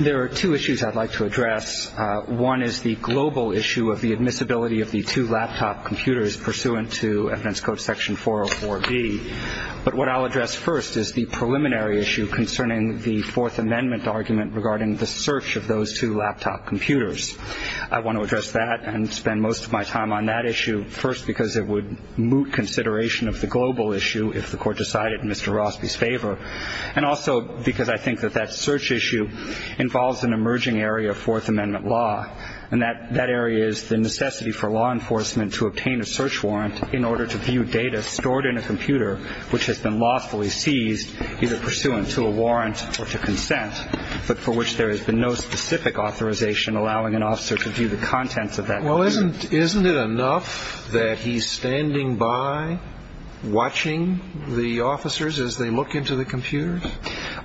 There are two issues I'd like to address. One is the global issue of the admissibility of the two laptop computers pursuant to Evidence Code Section 404B. But what I'll address first is the preliminary issue concerning the Fourth Amendment argument regarding the search of those two laptop computers. I want to address that and spend most of my time on that issue first because it would moot consideration of the global issue if the Court decided to do so. And also because I think that that search issue involves an emerging area of Fourth Amendment law. And that area is the necessity for law enforcement to obtain a search warrant in order to view data stored in a computer which has been lawfully seized, either pursuant to a warrant or to consent, but for which there has been no specific authorization allowing an officer to view the contents of that computer. Well, isn't it enough that he's standing by, watching the officers as they look into the computers?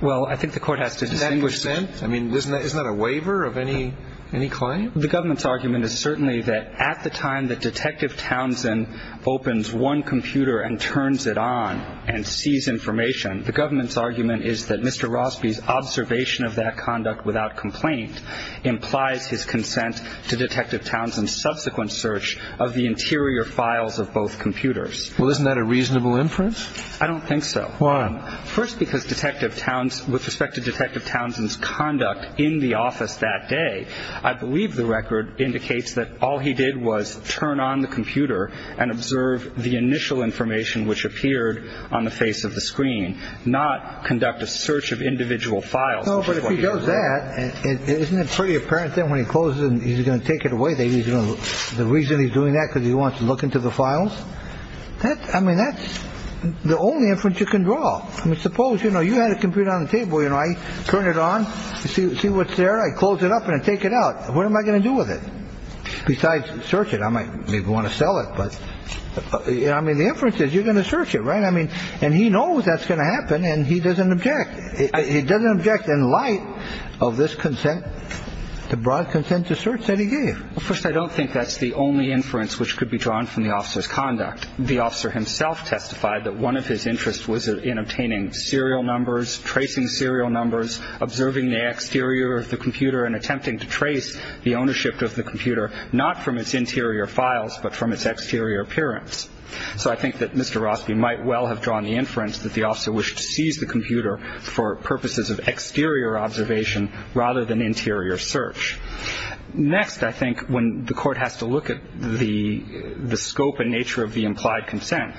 Well, I think the Court has to distinguish. Is that consent? I mean, isn't that a waiver of any claim? The Government's argument is certainly that at the time that Detective Townsend opens one computer and turns it on and sees information, the Government's argument is that Mr. Rossby's observation of that conduct without complaint implies his consent to Detective Townsend's subsequent search of the interior files of both computers. Well, isn't that a reasonable inference? I don't think so. Why? First, because Detective Townsend, with respect to Detective Townsend's conduct in the office that day, I believe the record indicates that all he did was turn on the computer and observe the initial information which appeared on the face of the screen, not conduct a search of individual files. But if he does that, isn't it pretty apparent that when he closes and he's going to take it away, the reason he's doing that, because he wants to look into the files. I mean, that's the only inference you can draw. I mean, suppose, you know, you had a computer on the table, you know, I turn it on to see what's there. I close it up and I take it out. What am I going to do with it besides search it? I might want to sell it. But I mean, the inference is you're going to search it. Right. I mean, and he knows that's going to happen. And he doesn't object. He doesn't object in light of this consent, the broad consent to search that he gave. First, I don't think that's the only inference which could be drawn from the officer's conduct. The officer himself testified that one of his interests was in obtaining serial numbers, tracing serial numbers, observing the exterior of the computer and attempting to trace the ownership of the computer, not from its interior files, but from its exterior appearance. So I think that Mr. Rossby might well have drawn the inference that the officer wished to seize the computer for purposes of exterior observation rather than interior search. Next, I think when the court has to look at the scope and nature of the implied consent,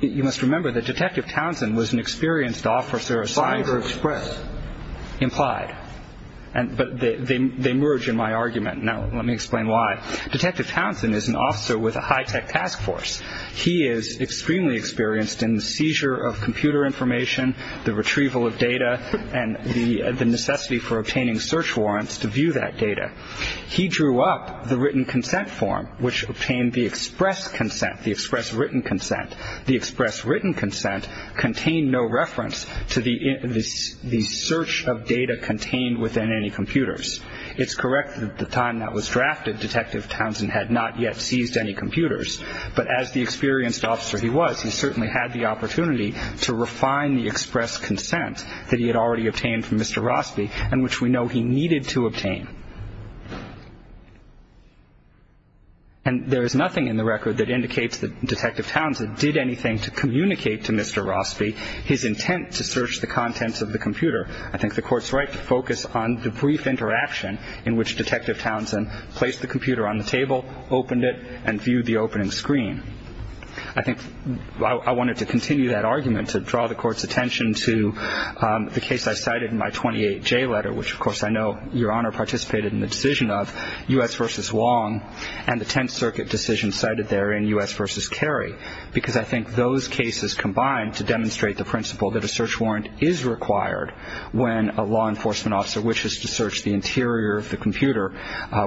you must remember that Detective Townsend was an experienced officer assigned to express implied. But they merge in my argument. Now, let me explain why. Detective Townsend is an officer with a high tech task force. He is extremely experienced in the seizure of computer information, the retrieval of data, and the necessity for obtaining search warrants to view that data. He drew up the written consent form, which obtained the express consent, the express written consent. The express written consent contained no reference to the search of data contained within any computers. It's correct that at the time that was drafted, Detective Townsend had not yet seized any computers. But as the experienced officer he was, he certainly had the opportunity to refine the express consent that he had already obtained from Mr. Rossby and which we know he needed to obtain. And there is nothing in the record that indicates that Detective Townsend did anything to communicate to Mr. Rossby his intent to search the contents of the computer. I think the Court's right to focus on the brief interaction in which Detective Townsend placed the computer on the table, opened it, and viewed the opening screen. I think I wanted to continue that argument to draw the Court's attention to the case I cited in my 28J letter, which of course I know Your Honor participated in the decision of, U.S. v. Wong, and the Tenth Circuit decision cited therein, U.S. v. Carey, because I think those cases combine to demonstrate the principle that a search warrant is required when a law enforcement officer wishes to search the interior of the computer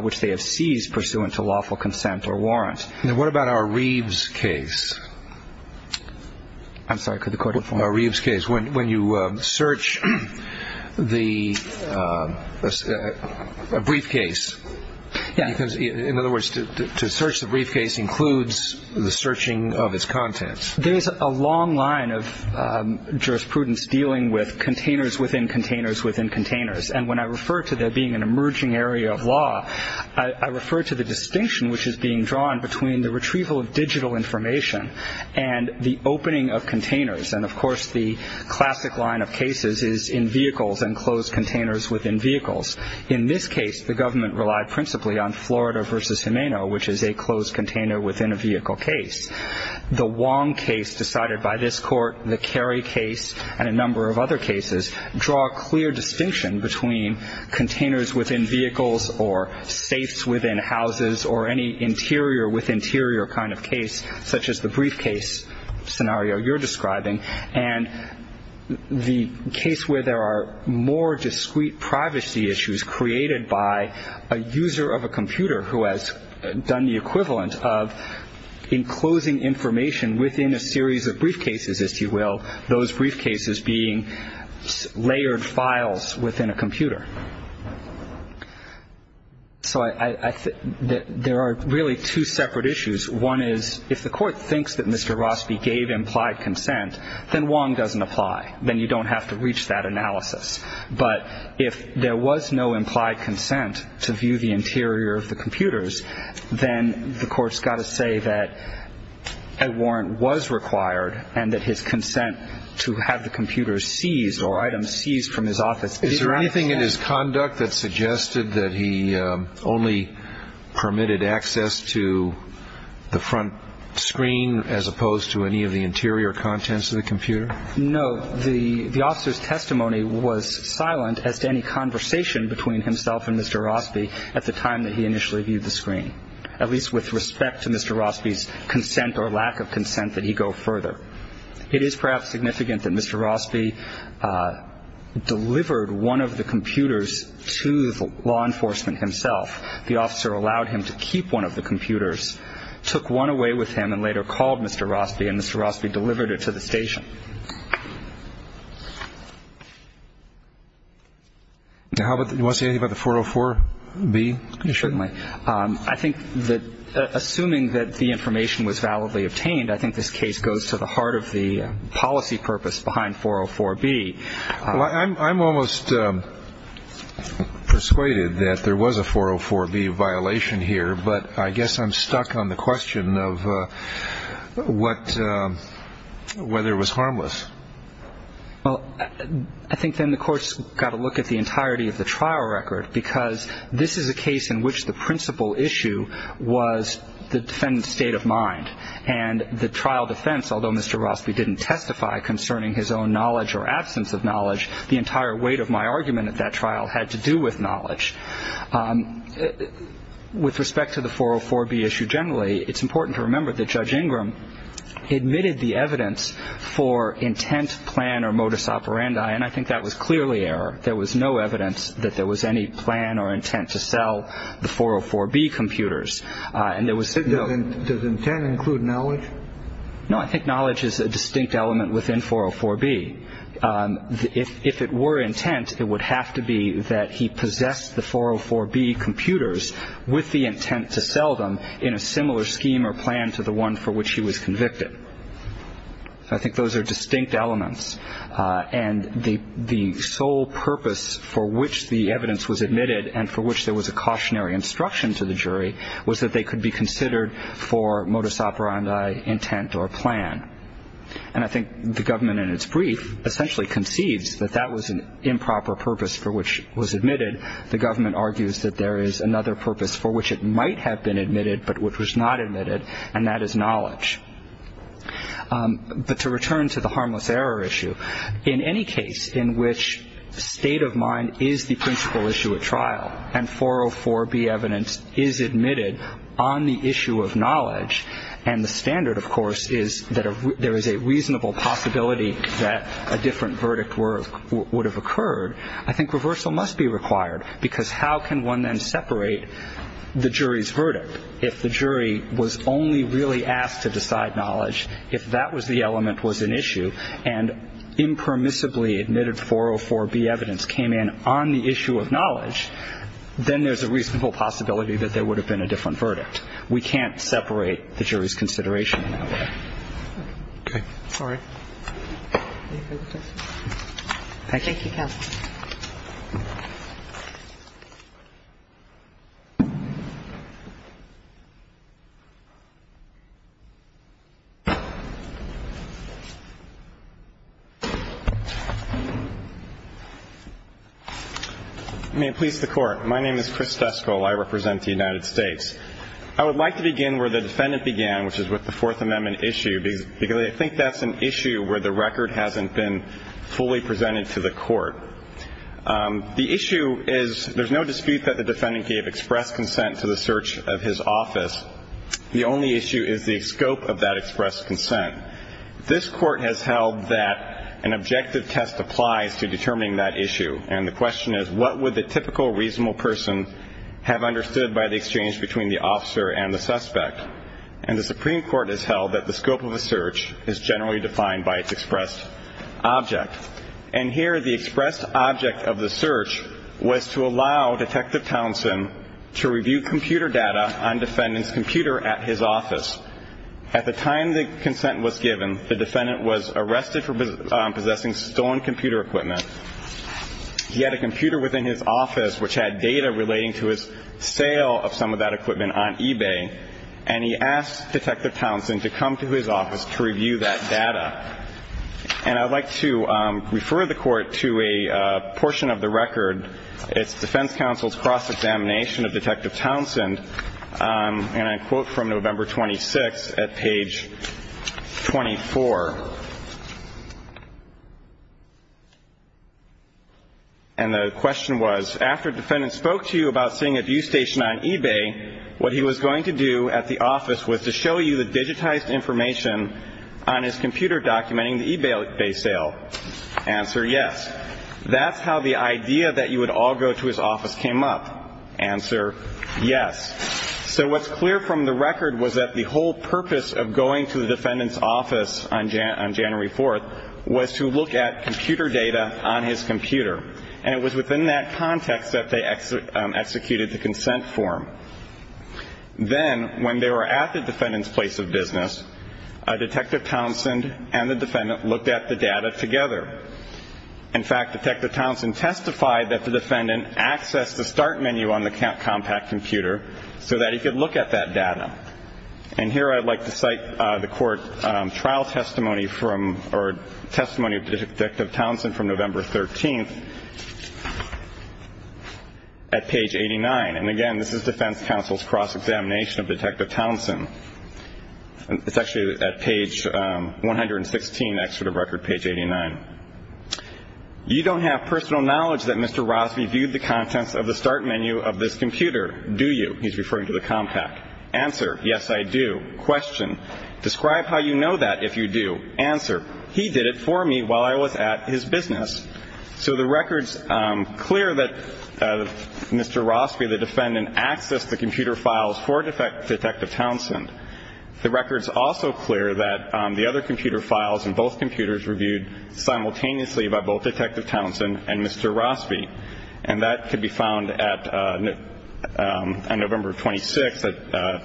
which they have seized pursuant to lawful consent or warrant. And what about our Reeves case? I'm sorry, could the Court reform? Our Reeves case, when you search the briefcase. In other words, to search the briefcase includes the searching of its contents. There is a long line of jurisprudence dealing with containers within containers within containers, and when I refer to there being an emerging area of law, I refer to the distinction which is being drawn between the retrieval of digital information and the opening of containers, and of course the classic line of cases is in vehicles, enclosed containers within vehicles. In this case, the government relied principally on Florida v. Gimeno, which is a closed container within a vehicle case. The Wong case decided by this Court, the Carey case, and a number of other cases, draw a clear distinction between containers within vehicles or safes within houses or any interior with interior kind of case, such as the briefcase scenario you're describing, and the case where there are more discrete privacy issues created by a user of a computer who has done the equivalent of enclosing information within a series of briefcases, if you will, those briefcases being layered files within a computer. So there are really two separate issues. One is if the Court thinks that Mr. Rossby gave implied consent, then Wong doesn't apply. Then you don't have to reach that analysis. But if there was no implied consent to view the interior of the computers, then the Court's got to say that a warrant was required and that his consent to have the computers seized or items seized from his office. Is there anything in his conduct that suggested that he only permitted access to the front screen as opposed to any of the interior contents of the computer? No. The officer's testimony was silent as to any conversation between himself and Mr. Rossby at the time that he initially viewed the screen, at least with respect to Mr. Rossby's consent or lack of consent that he go further. It is perhaps significant that Mr. Rossby delivered one of the computers to the law enforcement himself. The officer allowed him to keep one of the computers, took one away with him and later called Mr. Rossby and Mr. Rossby delivered it to the station. Do you want to say anything about the 404-B? Certainly. I think that assuming that the information was validly obtained, I think this case goes to the heart of the policy purpose behind 404-B. I'm almost persuaded that there was a 404-B violation here, but I guess I'm stuck on the question of whether it was harmless. Well, I think then the Court's got to look at the entirety of the trial record because this is a case in which the principal issue was the defendant's state of mind and the trial defense, although Mr. Rossby didn't testify concerning his own knowledge or absence of knowledge, the entire weight of my argument at that trial had to do with knowledge. With respect to the 404-B issue generally, it's important to remember that Judge Ingram admitted the evidence for intent, plan or modus operandi, and I think that was clearly error. There was no evidence that there was any plan or intent to sell the 404-B computers. Does intent include knowledge? No, I think knowledge is a distinct element within 404-B. If it were intent, it would have to be that he possessed the 404-B computers with the intent to sell them in a similar scheme or plan to the one for which he was convicted. I think those are distinct elements, and the sole purpose for which the evidence was admitted and for which there was a cautionary instruction to the jury was that they could be considered for modus operandi, intent or plan. And I think the government, in its brief, essentially concedes that that was an improper purpose for which it was admitted. The government argues that there is another purpose for which it might have been admitted but which was not admitted, and that is knowledge. But to return to the harmless error issue, in any case in which state of mind is the principal issue at trial and 404-B evidence is admitted on the issue of knowledge, and the standard, of course, is that there is a reasonable possibility that a different verdict would have occurred, I think reversal must be required because how can one then separate the jury's verdict if the jury was only really asked to decide knowledge if that was the element was an issue and impermissibly admitted 404-B evidence came in on the issue of knowledge, then there's a reasonable possibility that there would have been a different verdict. We can't separate the jury's consideration in that way. Okay. All right. Any further questions? Thank you. Thank you, counsel. May it please the Court. My name is Chris Tesco. I represent the United States. I would like to begin where the defendant began, which is with the Fourth Amendment issue, because I think that's an issue where the record hasn't been fully presented to the Court. The issue is there's no dispute that the defendant gave express consent to the search of his office. The only issue is the scope of that express consent. This Court has held that an objective test applies to determining that issue, and the question is what would the typical reasonable person have understood by the exchange between the officer and the suspect? And the Supreme Court has held that the scope of a search is generally defined by its expressed object. And here the expressed object of the search was to allow Detective Townsend to review computer data on the defendant's computer at his office. At the time the consent was given, the defendant was arrested for possessing stolen computer equipment. He had a computer within his office which had data relating to his sale of some of that equipment on eBay, and he asked Detective Townsend to come to his office to review that data. And I'd like to refer the Court to a portion of the record. It's Defense Counsel's cross-examination of Detective Townsend, and I quote from November 26 at page 24. And the question was, after the defendant spoke to you about seeing a view station on eBay, what he was going to do at the office was to show you the digitized information on his computer documenting the eBay sale. Answer, yes. That's how the idea that you would all go to his office came up. Answer, yes. So what's clear from the record was that the whole purpose of going to the defendant's office on January 4th was to look at computer data on his computer. And it was within that context that they executed the consent form. Then when they were at the defendant's place of business, Detective Townsend and the defendant looked at the data together. In fact, Detective Townsend testified that the defendant accessed the Start menu on the compact computer so that he could look at that data. And here I'd like to cite the Court trial testimony from or testimony of Detective Townsend from November 13th at page 89. And, again, this is Defense Counsel's cross-examination of Detective Townsend. It's actually at page 116, excerpt of record page 89. You don't have personal knowledge that Mr. Rosby viewed the contents of the Start menu of this computer, do you? He's referring to the compact. Answer, yes, I do. Question, describe how you know that if you do. Answer, he did it for me while I was at his business. So the record's clear that Mr. Rosby, the defendant, accessed the computer files for Detective Townsend. The record's also clear that the other computer files in both computers were viewed simultaneously by both Detective Townsend and Mr. Rosby. And that can be found on November 26th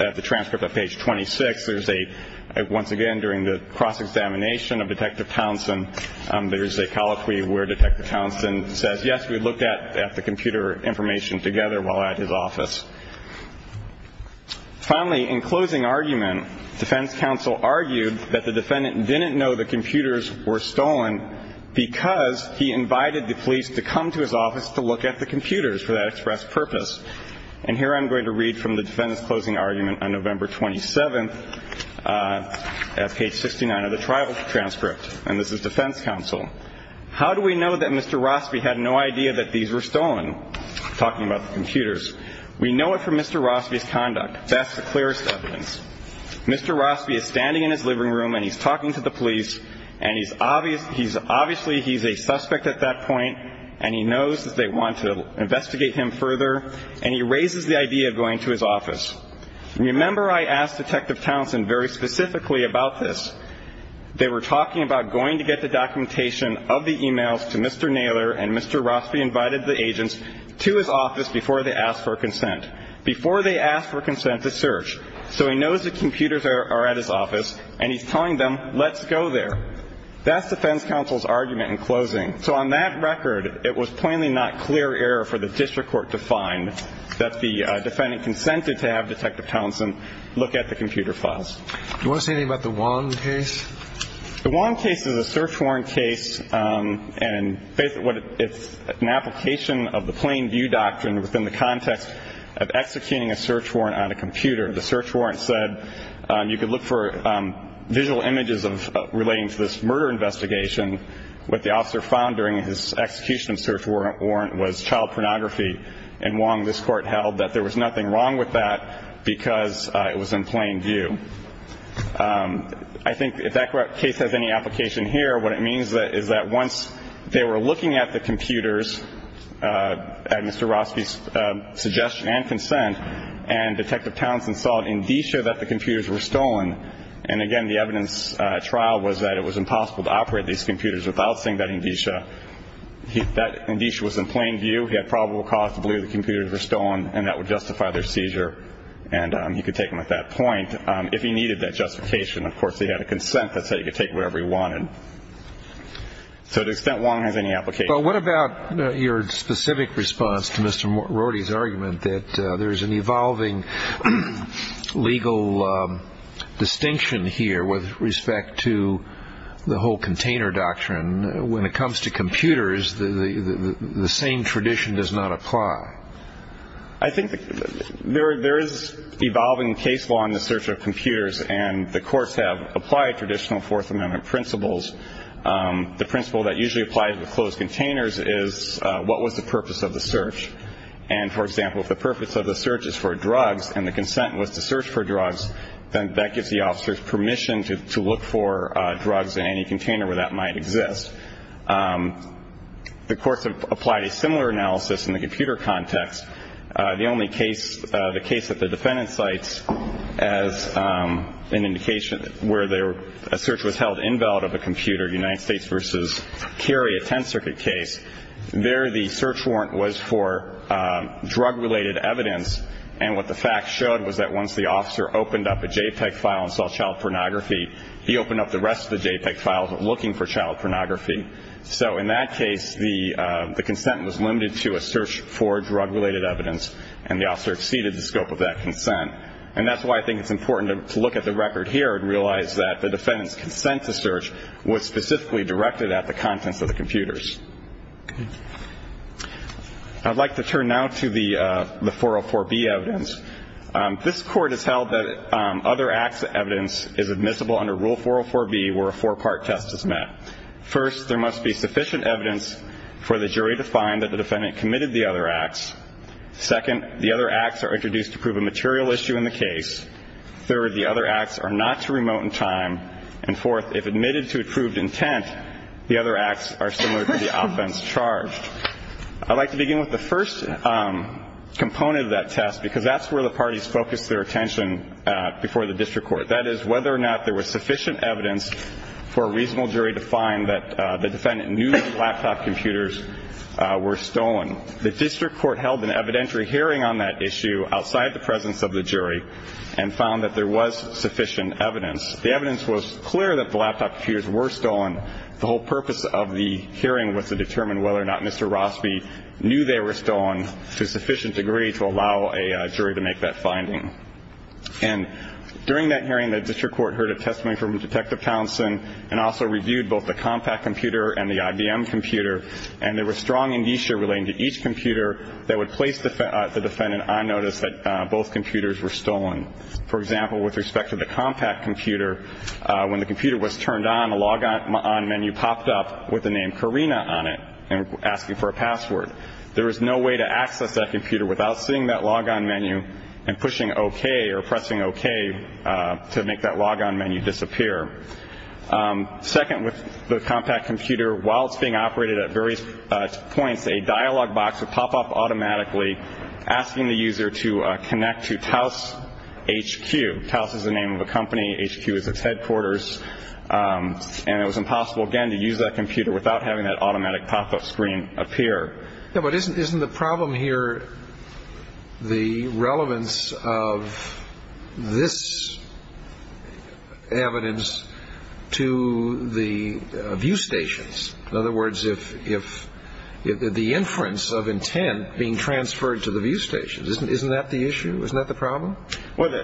at the transcript at page 26. Once again, during the cross-examination of Detective Townsend, there is a colloquy where Detective Townsend says, yes, we looked at the computer information together while at his office. Finally, in closing argument, Defense Counsel argued that the defendant didn't know the computers were stolen because he invited the police to come to his office to look at the computers for that express purpose. And here I'm going to read from the defendant's closing argument on November 27th at page 69 of the trial transcript. And this is Defense Counsel. How do we know that Mr. Rosby had no idea that these were stolen? Talking about the computers. We know it from Mr. Rosby's conduct. That's the clearest evidence. Mr. Rosby is standing in his living room and he's talking to the police, and obviously he's a suspect at that point, and he knows that they want to investigate him further, and he raises the idea of going to his office. Remember I asked Detective Townsend very specifically about this. They were talking about going to get the documentation of the e-mails to Mr. Naylor, and Mr. Rosby invited the agents to his office before they asked for consent, before they asked for consent to search. So he knows the computers are at his office, and he's telling them, let's go there. That's Defense Counsel's argument in closing. So on that record, it was plainly not clear error for the district court to find that the defendant consented to have Detective Townsend look at the computer files. Do you want to say anything about the Wong case? The Wong case is a search warrant case, and it's an application of the plain view doctrine within the context of executing a search warrant on a computer. The search warrant said you could look for visual images relating to this murder investigation. What the officer found during his execution of the search warrant was child pornography, and Wong, this court, held that there was nothing wrong with that because it was in plain view. I think if that case has any application here, what it means is that once they were looking at the computers, at Mr. Roski's suggestion and consent, and Detective Townsend saw it indicia that the computers were stolen, and again the evidence trial was that it was impossible to operate these computers without seeing that indicia. That indicia was in plain view. He had probable cause to believe the computers were stolen, and that would justify their seizure, and he could take them at that point. If he needed that justification, of course, he had a consent that said he could take whatever he wanted. So to the extent Wong has any application. What about your specific response to Mr. Rohde's argument that there is an evolving legal distinction here with respect to the whole container doctrine? When it comes to computers, the same tradition does not apply. I think there is evolving case law in the search of computers, and the courts have applied traditional Fourth Amendment principles, the principle that usually applies with closed containers is what was the purpose of the search. And, for example, if the purpose of the search is for drugs and the consent was to search for drugs, then that gives the officers permission to look for drugs in any container where that might exist. The courts have applied a similar analysis in the computer context. The only case, the case at the defendant's sites, as an indication where a search was held invalid of a computer, United States v. Cary, a Tenth Circuit case, there the search warrant was for drug-related evidence, and what the facts showed was that once the officer opened up a JPEG file and saw child pornography, he opened up the rest of the JPEG files looking for child pornography. So in that case, the consent was limited to a search for drug-related evidence, and the officer exceeded the scope of that consent. And that's why I think it's important to look at the record here and realize that the defendant's consent to search was specifically directed at the contents of the computers. I'd like to turn now to the 404B evidence. This Court has held that other acts of evidence is admissible under Rule 404B where a four-part test is met. First, there must be sufficient evidence for the jury to find that the defendant committed the other acts. Second, the other acts are introduced to prove a material issue in the case. Third, the other acts are not too remote in time. And fourth, if admitted to approved intent, the other acts are similar to the offense charged. I'd like to begin with the first component of that test because that's where the parties focus their attention before the district court. That is whether or not there was sufficient evidence for a reasonable jury to find that the defendant knew the laptop computers were stolen. The district court held an evidentiary hearing on that issue outside the presence of the jury and found that there was sufficient evidence. The evidence was clear that the laptop computers were stolen. The whole purpose of the hearing was to determine whether or not Mr. Rossby knew they were stolen to a sufficient degree to allow a jury to make that finding. And during that hearing, the district court heard a testimony from Detective Townsend and also reviewed both the Compaq computer and the IBM computer, and there was strong indicia relating to each computer that would place the defendant on notice that both computers were stolen. For example, with respect to the Compaq computer, when the computer was turned on, a logon menu popped up with the name Karina on it and asking for a password. There was no way to access that computer without seeing that logon menu and pushing OK or pressing OK to make that logon menu disappear. Second, with the Compaq computer, while it's being operated at various points, a dialog box would pop up automatically asking the user to connect to Taos HQ. Taos is the name of a company. HQ is its headquarters. And it was impossible, again, to use that computer without having that automatic pop-up screen appear. Yeah, but isn't the problem here the relevance of this evidence to the view stations? In other words, if the inference of intent being transferred to the view stations, isn't that the issue? Isn't that the problem? Well,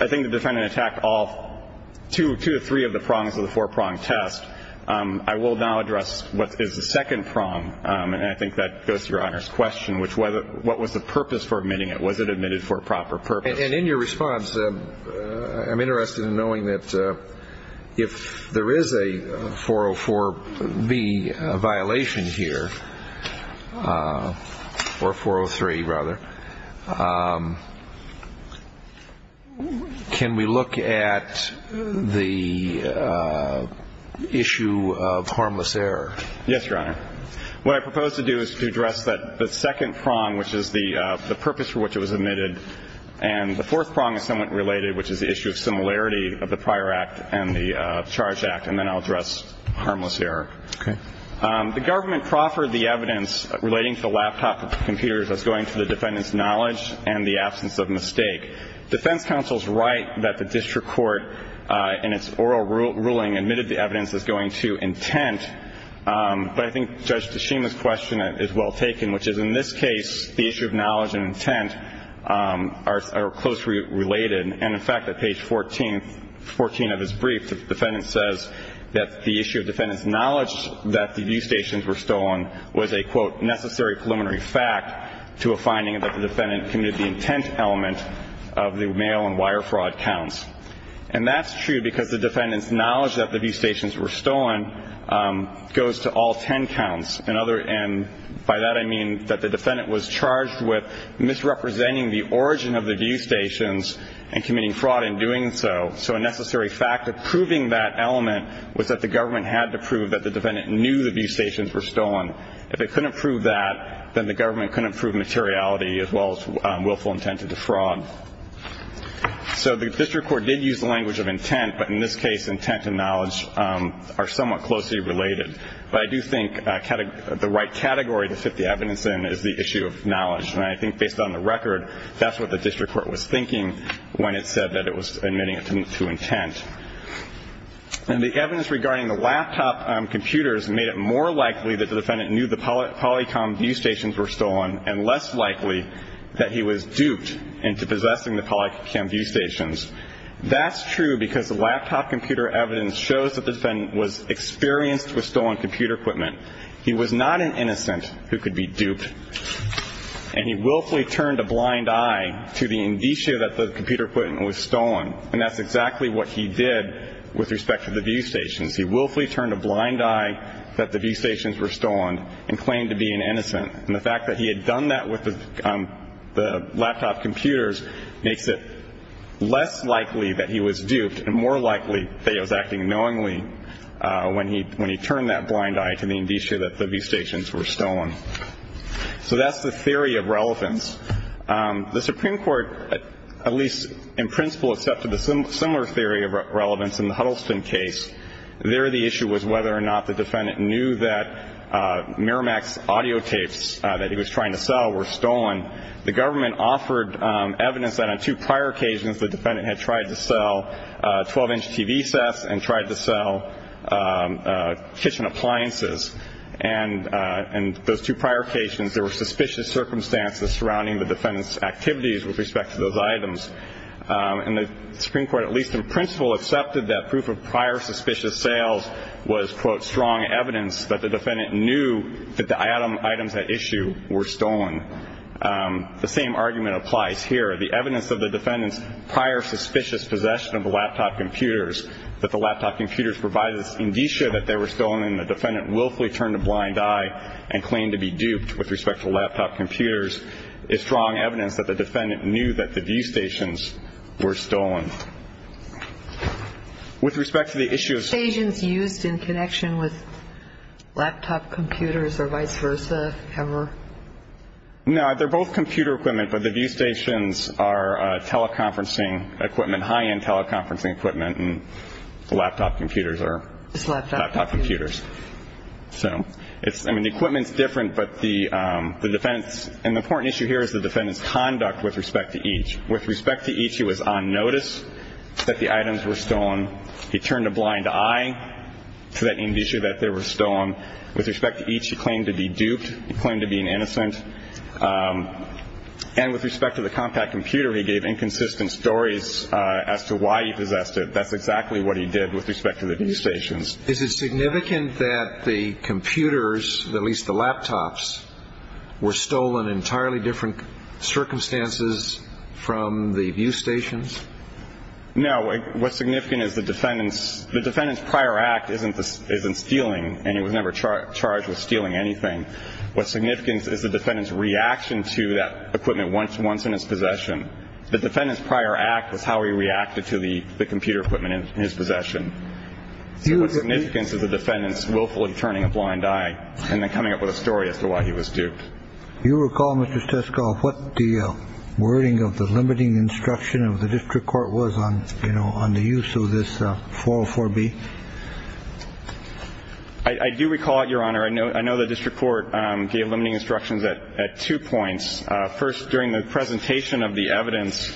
I think the defendant attacked all two or three of the prongs of the four-prong test. I will now address what is the second prong, and I think that goes to Your Honor's question, which was what was the purpose for admitting it. Was it admitted for a proper purpose? And in your response, I'm interested in knowing that if there is a 404B violation here, or 403, rather, can we look at the issue of harmless error? Yes, Your Honor. What I propose to do is to address the second prong, which is the purpose for which it was admitted, and the fourth prong is somewhat related, which is the issue of similarity of the prior act and the charge act, and then I'll address harmless error. Okay. The government proffered the evidence relating to the laptop computers as going to the defendant's knowledge and the absence of mistake. Defense counsels write that the district court, in its oral ruling, admitted the evidence as going to intent. But I think Judge Tshima's question is well taken, which is in this case the issue of knowledge and intent are closely related. And, in fact, at page 14 of his brief, the defendant says that the issue of defendant's knowledge that the view stations were stolen was a, quote, necessary preliminary fact to a finding that the defendant committed the intent element of the mail and wire fraud counts. And that's true because the defendant's knowledge that the view stations were stolen goes to all ten counts, and by that I mean that the defendant was charged with misrepresenting the origin of the view stations and committing fraud in doing so. So a necessary fact of proving that element was that the government had to prove that the defendant knew the view stations were stolen. If it couldn't prove that, then the government couldn't prove materiality as well as willful intent to defraud. So the district court did use the language of intent, but in this case intent and knowledge are somewhat closely related. But I do think the right category to fit the evidence in is the issue of knowledge. And I think based on the record, that's what the district court was thinking when it said that it was admitting it to intent. And the evidence regarding the laptop computers made it more likely that the defendant knew the Polycom view stations were stolen and less likely that he was duped into possessing the Polycom view stations. That's true because the laptop computer evidence shows that the defendant was experienced with stolen computer equipment. He was not an innocent who could be duped. And he willfully turned a blind eye to the indicia that the computer equipment was stolen, and that's exactly what he did with respect to the view stations. He willfully turned a blind eye that the view stations were stolen and claimed to be an innocent. And the fact that he had done that with the laptop computers makes it less likely that he was duped and more likely that he was acting knowingly when he turned that blind eye to the indicia that the view stations were stolen. So that's the theory of relevance. The Supreme Court, at least in principle, accepted a similar theory of relevance in the Huddleston case. There the issue was whether or not the defendant knew that Miramax audio tapes that he was trying to sell were stolen. The government offered evidence that on two prior occasions the defendant had tried to sell 12-inch TV sets and tried to sell kitchen appliances. And in those two prior occasions there were suspicious circumstances surrounding the defendant's activities with respect to those items. And the Supreme Court, at least in principle, accepted that proof of prior suspicious sales was, quote, strong evidence that the defendant knew that the items at issue were stolen. The same argument applies here. The evidence of the defendant's prior suspicious possession of the laptop computers, that the laptop computers provided this indicia that they were stolen and the defendant willfully turned a blind eye and claimed to be duped with respect to laptop computers, is strong evidence that the defendant knew that the view stations were stolen. With respect to the issue of... Stations used in connection with laptop computers or vice versa, have a... No, they're both computer equipment, but the view stations are teleconferencing equipment, high-end teleconferencing equipment, and the laptop computers are... Just laptop computers. Laptop computers. So it's... I mean, the equipment's different, but the defendant's... And the important issue here is the defendant's conduct with respect to each. With respect to each, he was on notice that the items were stolen. He turned a blind eye to that indicia that they were stolen. With respect to each, he claimed to be duped. He claimed to be an innocent. And with respect to the compact computer, he gave inconsistent stories as to why he possessed it. That's exactly what he did with respect to the view stations. Is it significant that the computers, at least the laptops, were stolen in entirely different circumstances from the view stations? No. What's significant is the defendant's prior act isn't stealing, and he was never charged with stealing anything. What's significant is the defendant's reaction to that equipment once in his possession. The defendant's prior act was how he reacted to the computer equipment in his possession. What's significant is the defendant's willfully turning a blind eye and then coming up with a story as to why he was duped. Do you recall, Mr. Steskov, what the wording of the limiting instruction of the district court was on the use of this 404B? I do recall it, Your Honor. I know the district court gave limiting instructions at two points. First, during the presentation of the evidence,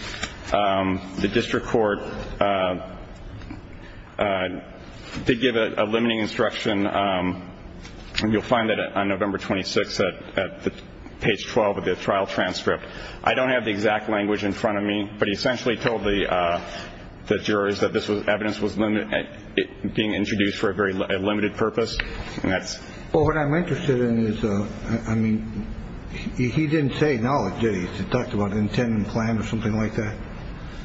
the district court did give a limiting instruction. You'll find that on November 26th at page 12 of the trial transcript. I don't have the exact language in front of me, but he essentially told the jurors that this evidence was being introduced for a very limited purpose. Well, what I'm interested in is, I mean, he didn't say knowledge, did he? He talked about intent and plan or something like that?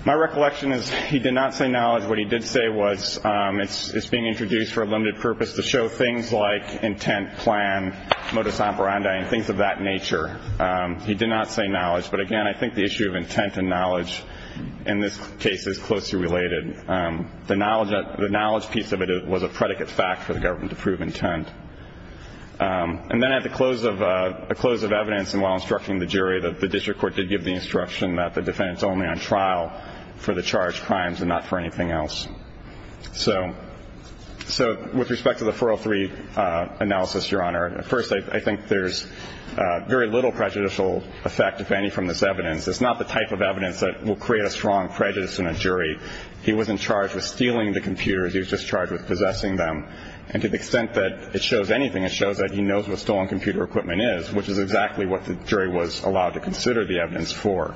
My recollection is he did not say knowledge. What he did say was it's being introduced for a limited purpose to show things like intent, plan, modus operandi and things of that nature. He did not say knowledge. But, again, I think the issue of intent and knowledge in this case is closely related. The knowledge piece of it was a predicate fact for the government to prove intent. And then at the close of evidence and while instructing the jury, the district court did give the instruction that the defendant is only on trial for the charged crimes and not for anything else. So with respect to the 403 analysis, Your Honor, first I think there's very little prejudicial effect, if any, from this evidence. It's not the type of evidence that will create a strong prejudice in a jury. He wasn't charged with stealing the computers. He was just charged with possessing them. And to the extent that it shows anything, it shows that he knows what stolen computer equipment is, which is exactly what the jury was allowed to consider the evidence for.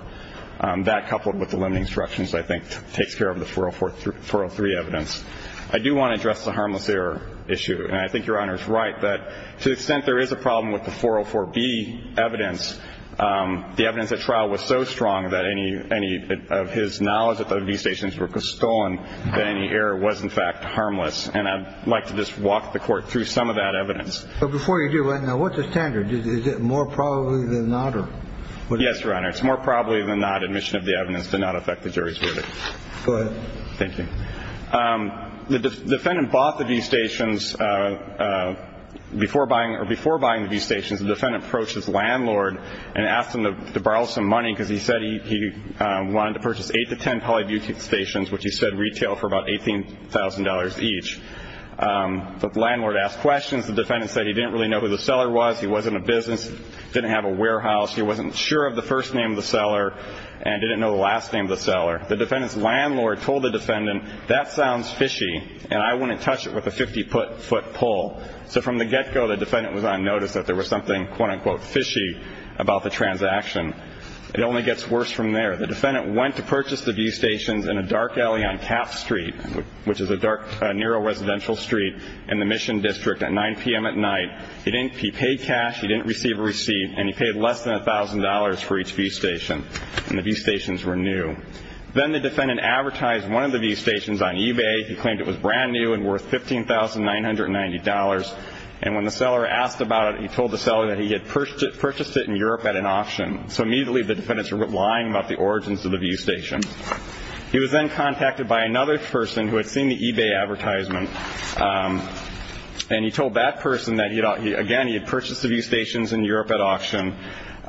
That, coupled with the limiting instructions, I think, takes care of the 403 evidence. I do want to address the harmless error issue. And I think Your Honor is right that to the extent there is a problem with the 404B evidence, the evidence at trial was so strong that any of his knowledge that the V stations were stolen, that any error was, in fact, harmless. And I'd like to just walk the court through some of that evidence. But before you do that, now, what's the standard? Is it more probably than not? Yes, Your Honor. It's more probably than not admission of the evidence to not affect the jury's verdict. Go ahead. Thank you. The defendant bought the V stations before buying the V stations. The defendant approached his landlord and asked him to borrow some money because he said he wanted to purchase eight to ten Polybutyne stations, which he said retailed for about $18,000 each. The landlord asked questions. The defendant said he didn't really know who the seller was. He wasn't a business. He didn't have a warehouse. He wasn't sure of the first name of the seller and didn't know the last name of the seller. The defendant's landlord told the defendant, that sounds fishy and I wouldn't touch it with a 50-foot pole. So from the get-go the defendant was on notice that there was something, quote-unquote, fishy about the transaction. It only gets worse from there. The defendant went to purchase the V stations in a dark alley on Cap Street, which is near a residential street in the Mission District, at 9 p.m. at night. He paid cash. He didn't receive a receipt. And he paid less than $1,000 for each V station. And the V stations were new. Then the defendant advertised one of the V stations on eBay. He claimed it was brand new and worth $15,990. And when the seller asked about it, he told the seller that he had purchased it in Europe at an auction. So immediately the defendant started lying about the origins of the V station. He was then contacted by another person who had seen the eBay advertisement. And he told that person that, again, he had purchased the V stations in Europe at auction.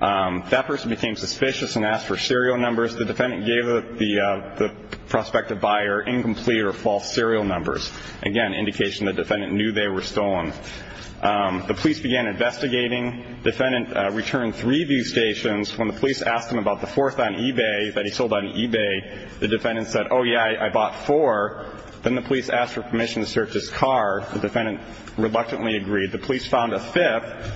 That person became suspicious and asked for serial numbers. The defendant gave the prospective buyer incomplete or false serial numbers. Again, indication the defendant knew they were stolen. The police began investigating. The defendant returned three V stations. When the police asked him about the fourth on eBay that he sold on eBay, the defendant said, oh, yeah, I bought four. Then the police asked for permission to search his car. The defendant reluctantly agreed. The police found a fifth,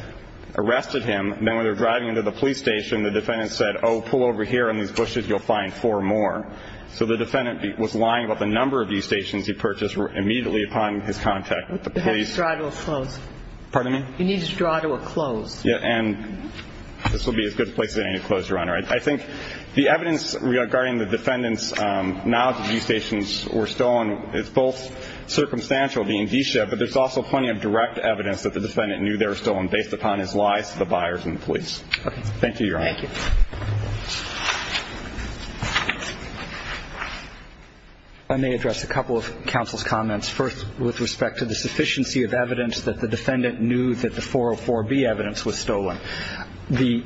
arrested him. Then when they were driving him to the police station, the defendant said, oh, pull over here in these bushes, you'll find four more. So the defendant was lying about the number of V stations he purchased immediately upon his contact with the police. You need to draw to a close. Pardon me? You need to draw to a close. Yeah, and this will be as good a place as any to close, Your Honor. I think the evidence regarding the defendant's knowledge that V stations were stolen is both circumstantial, the indicia, but there's also plenty of direct evidence that the defendant knew they were stolen based upon his lies to the buyers and the police. Thank you, Your Honor. Thank you. I may address a couple of counsel's comments. First, with respect to the sufficiency of evidence that the defendant knew that the 404B evidence was stolen. The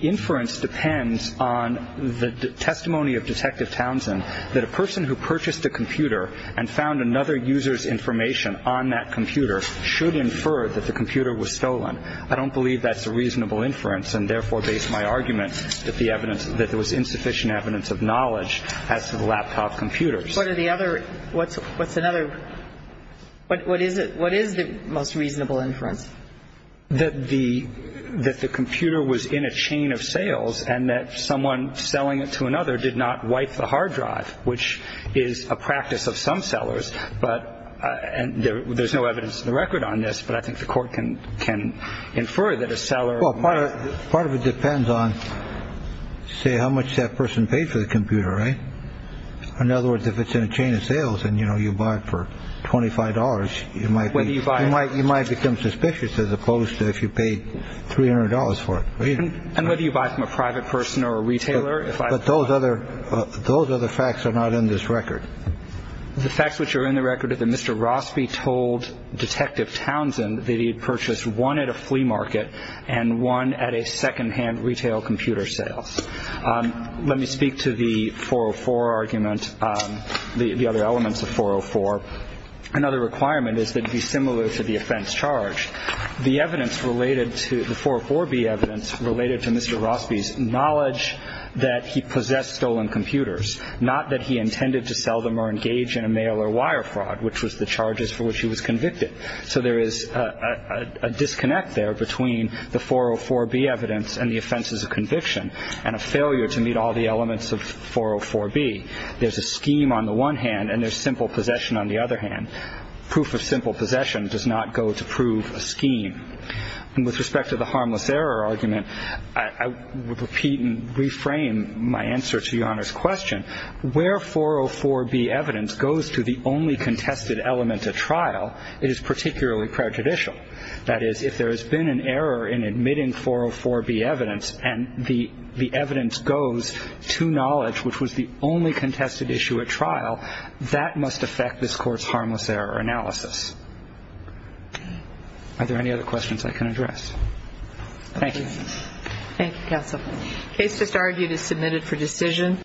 inference depends on the testimony of Detective Townsend that a person who purchased a computer and found another user's information on that computer should infer that the computer was stolen. I don't believe that's a reasonable inference and, therefore, base my argument that the evidence that there was insufficient evidence of knowledge as to the laptop computer. What are the other, what's another, what is the most reasonable inference? That the computer was in a chain of sales and that someone selling it to another did not wipe the hard drive, which is a practice of some sellers. But there's no evidence in the record on this, but I think the court can infer that a seller. Well, part of it depends on, say, how much that person paid for the computer, right? In other words, if it's in a chain of sales and, you know, you buy it for $25, you might. Whether you buy it. You might become suspicious as opposed to if you paid $300 for it. And whether you buy from a private person or a retailer. But those other those other facts are not in this record. The facts which are in the record of the Mr. Rossby told Detective Townsend that he had purchased one at a flea market and one at a secondhand retail computer sales. Let me speak to the 404 argument. The other elements of 404. Another requirement is that it be similar to the offense charge. The evidence related to the 404B evidence related to Mr. Rossby's knowledge that he possessed stolen computers, not that he intended to sell them or engage in a mail or wire fraud, which was the charges for which he was convicted. So there is a disconnect there between the 404B evidence and the offenses of conviction and a failure to meet all the elements of 404B. There's a scheme on the one hand and there's simple possession on the other hand. Proof of simple possession does not go to prove a scheme. And with respect to the harmless error argument, I would repeat and reframe my answer to your Honor's question. Where 404B evidence goes to the only contested element at trial, it is particularly prejudicial. That is, if there has been an error in admitting 404B evidence and the evidence goes to knowledge, which was the only contested issue at trial, that must affect this Court's harmless error analysis. Are there any other questions I can address? Thank you. Thank you, Counsel. The case just argued is submitted for decision.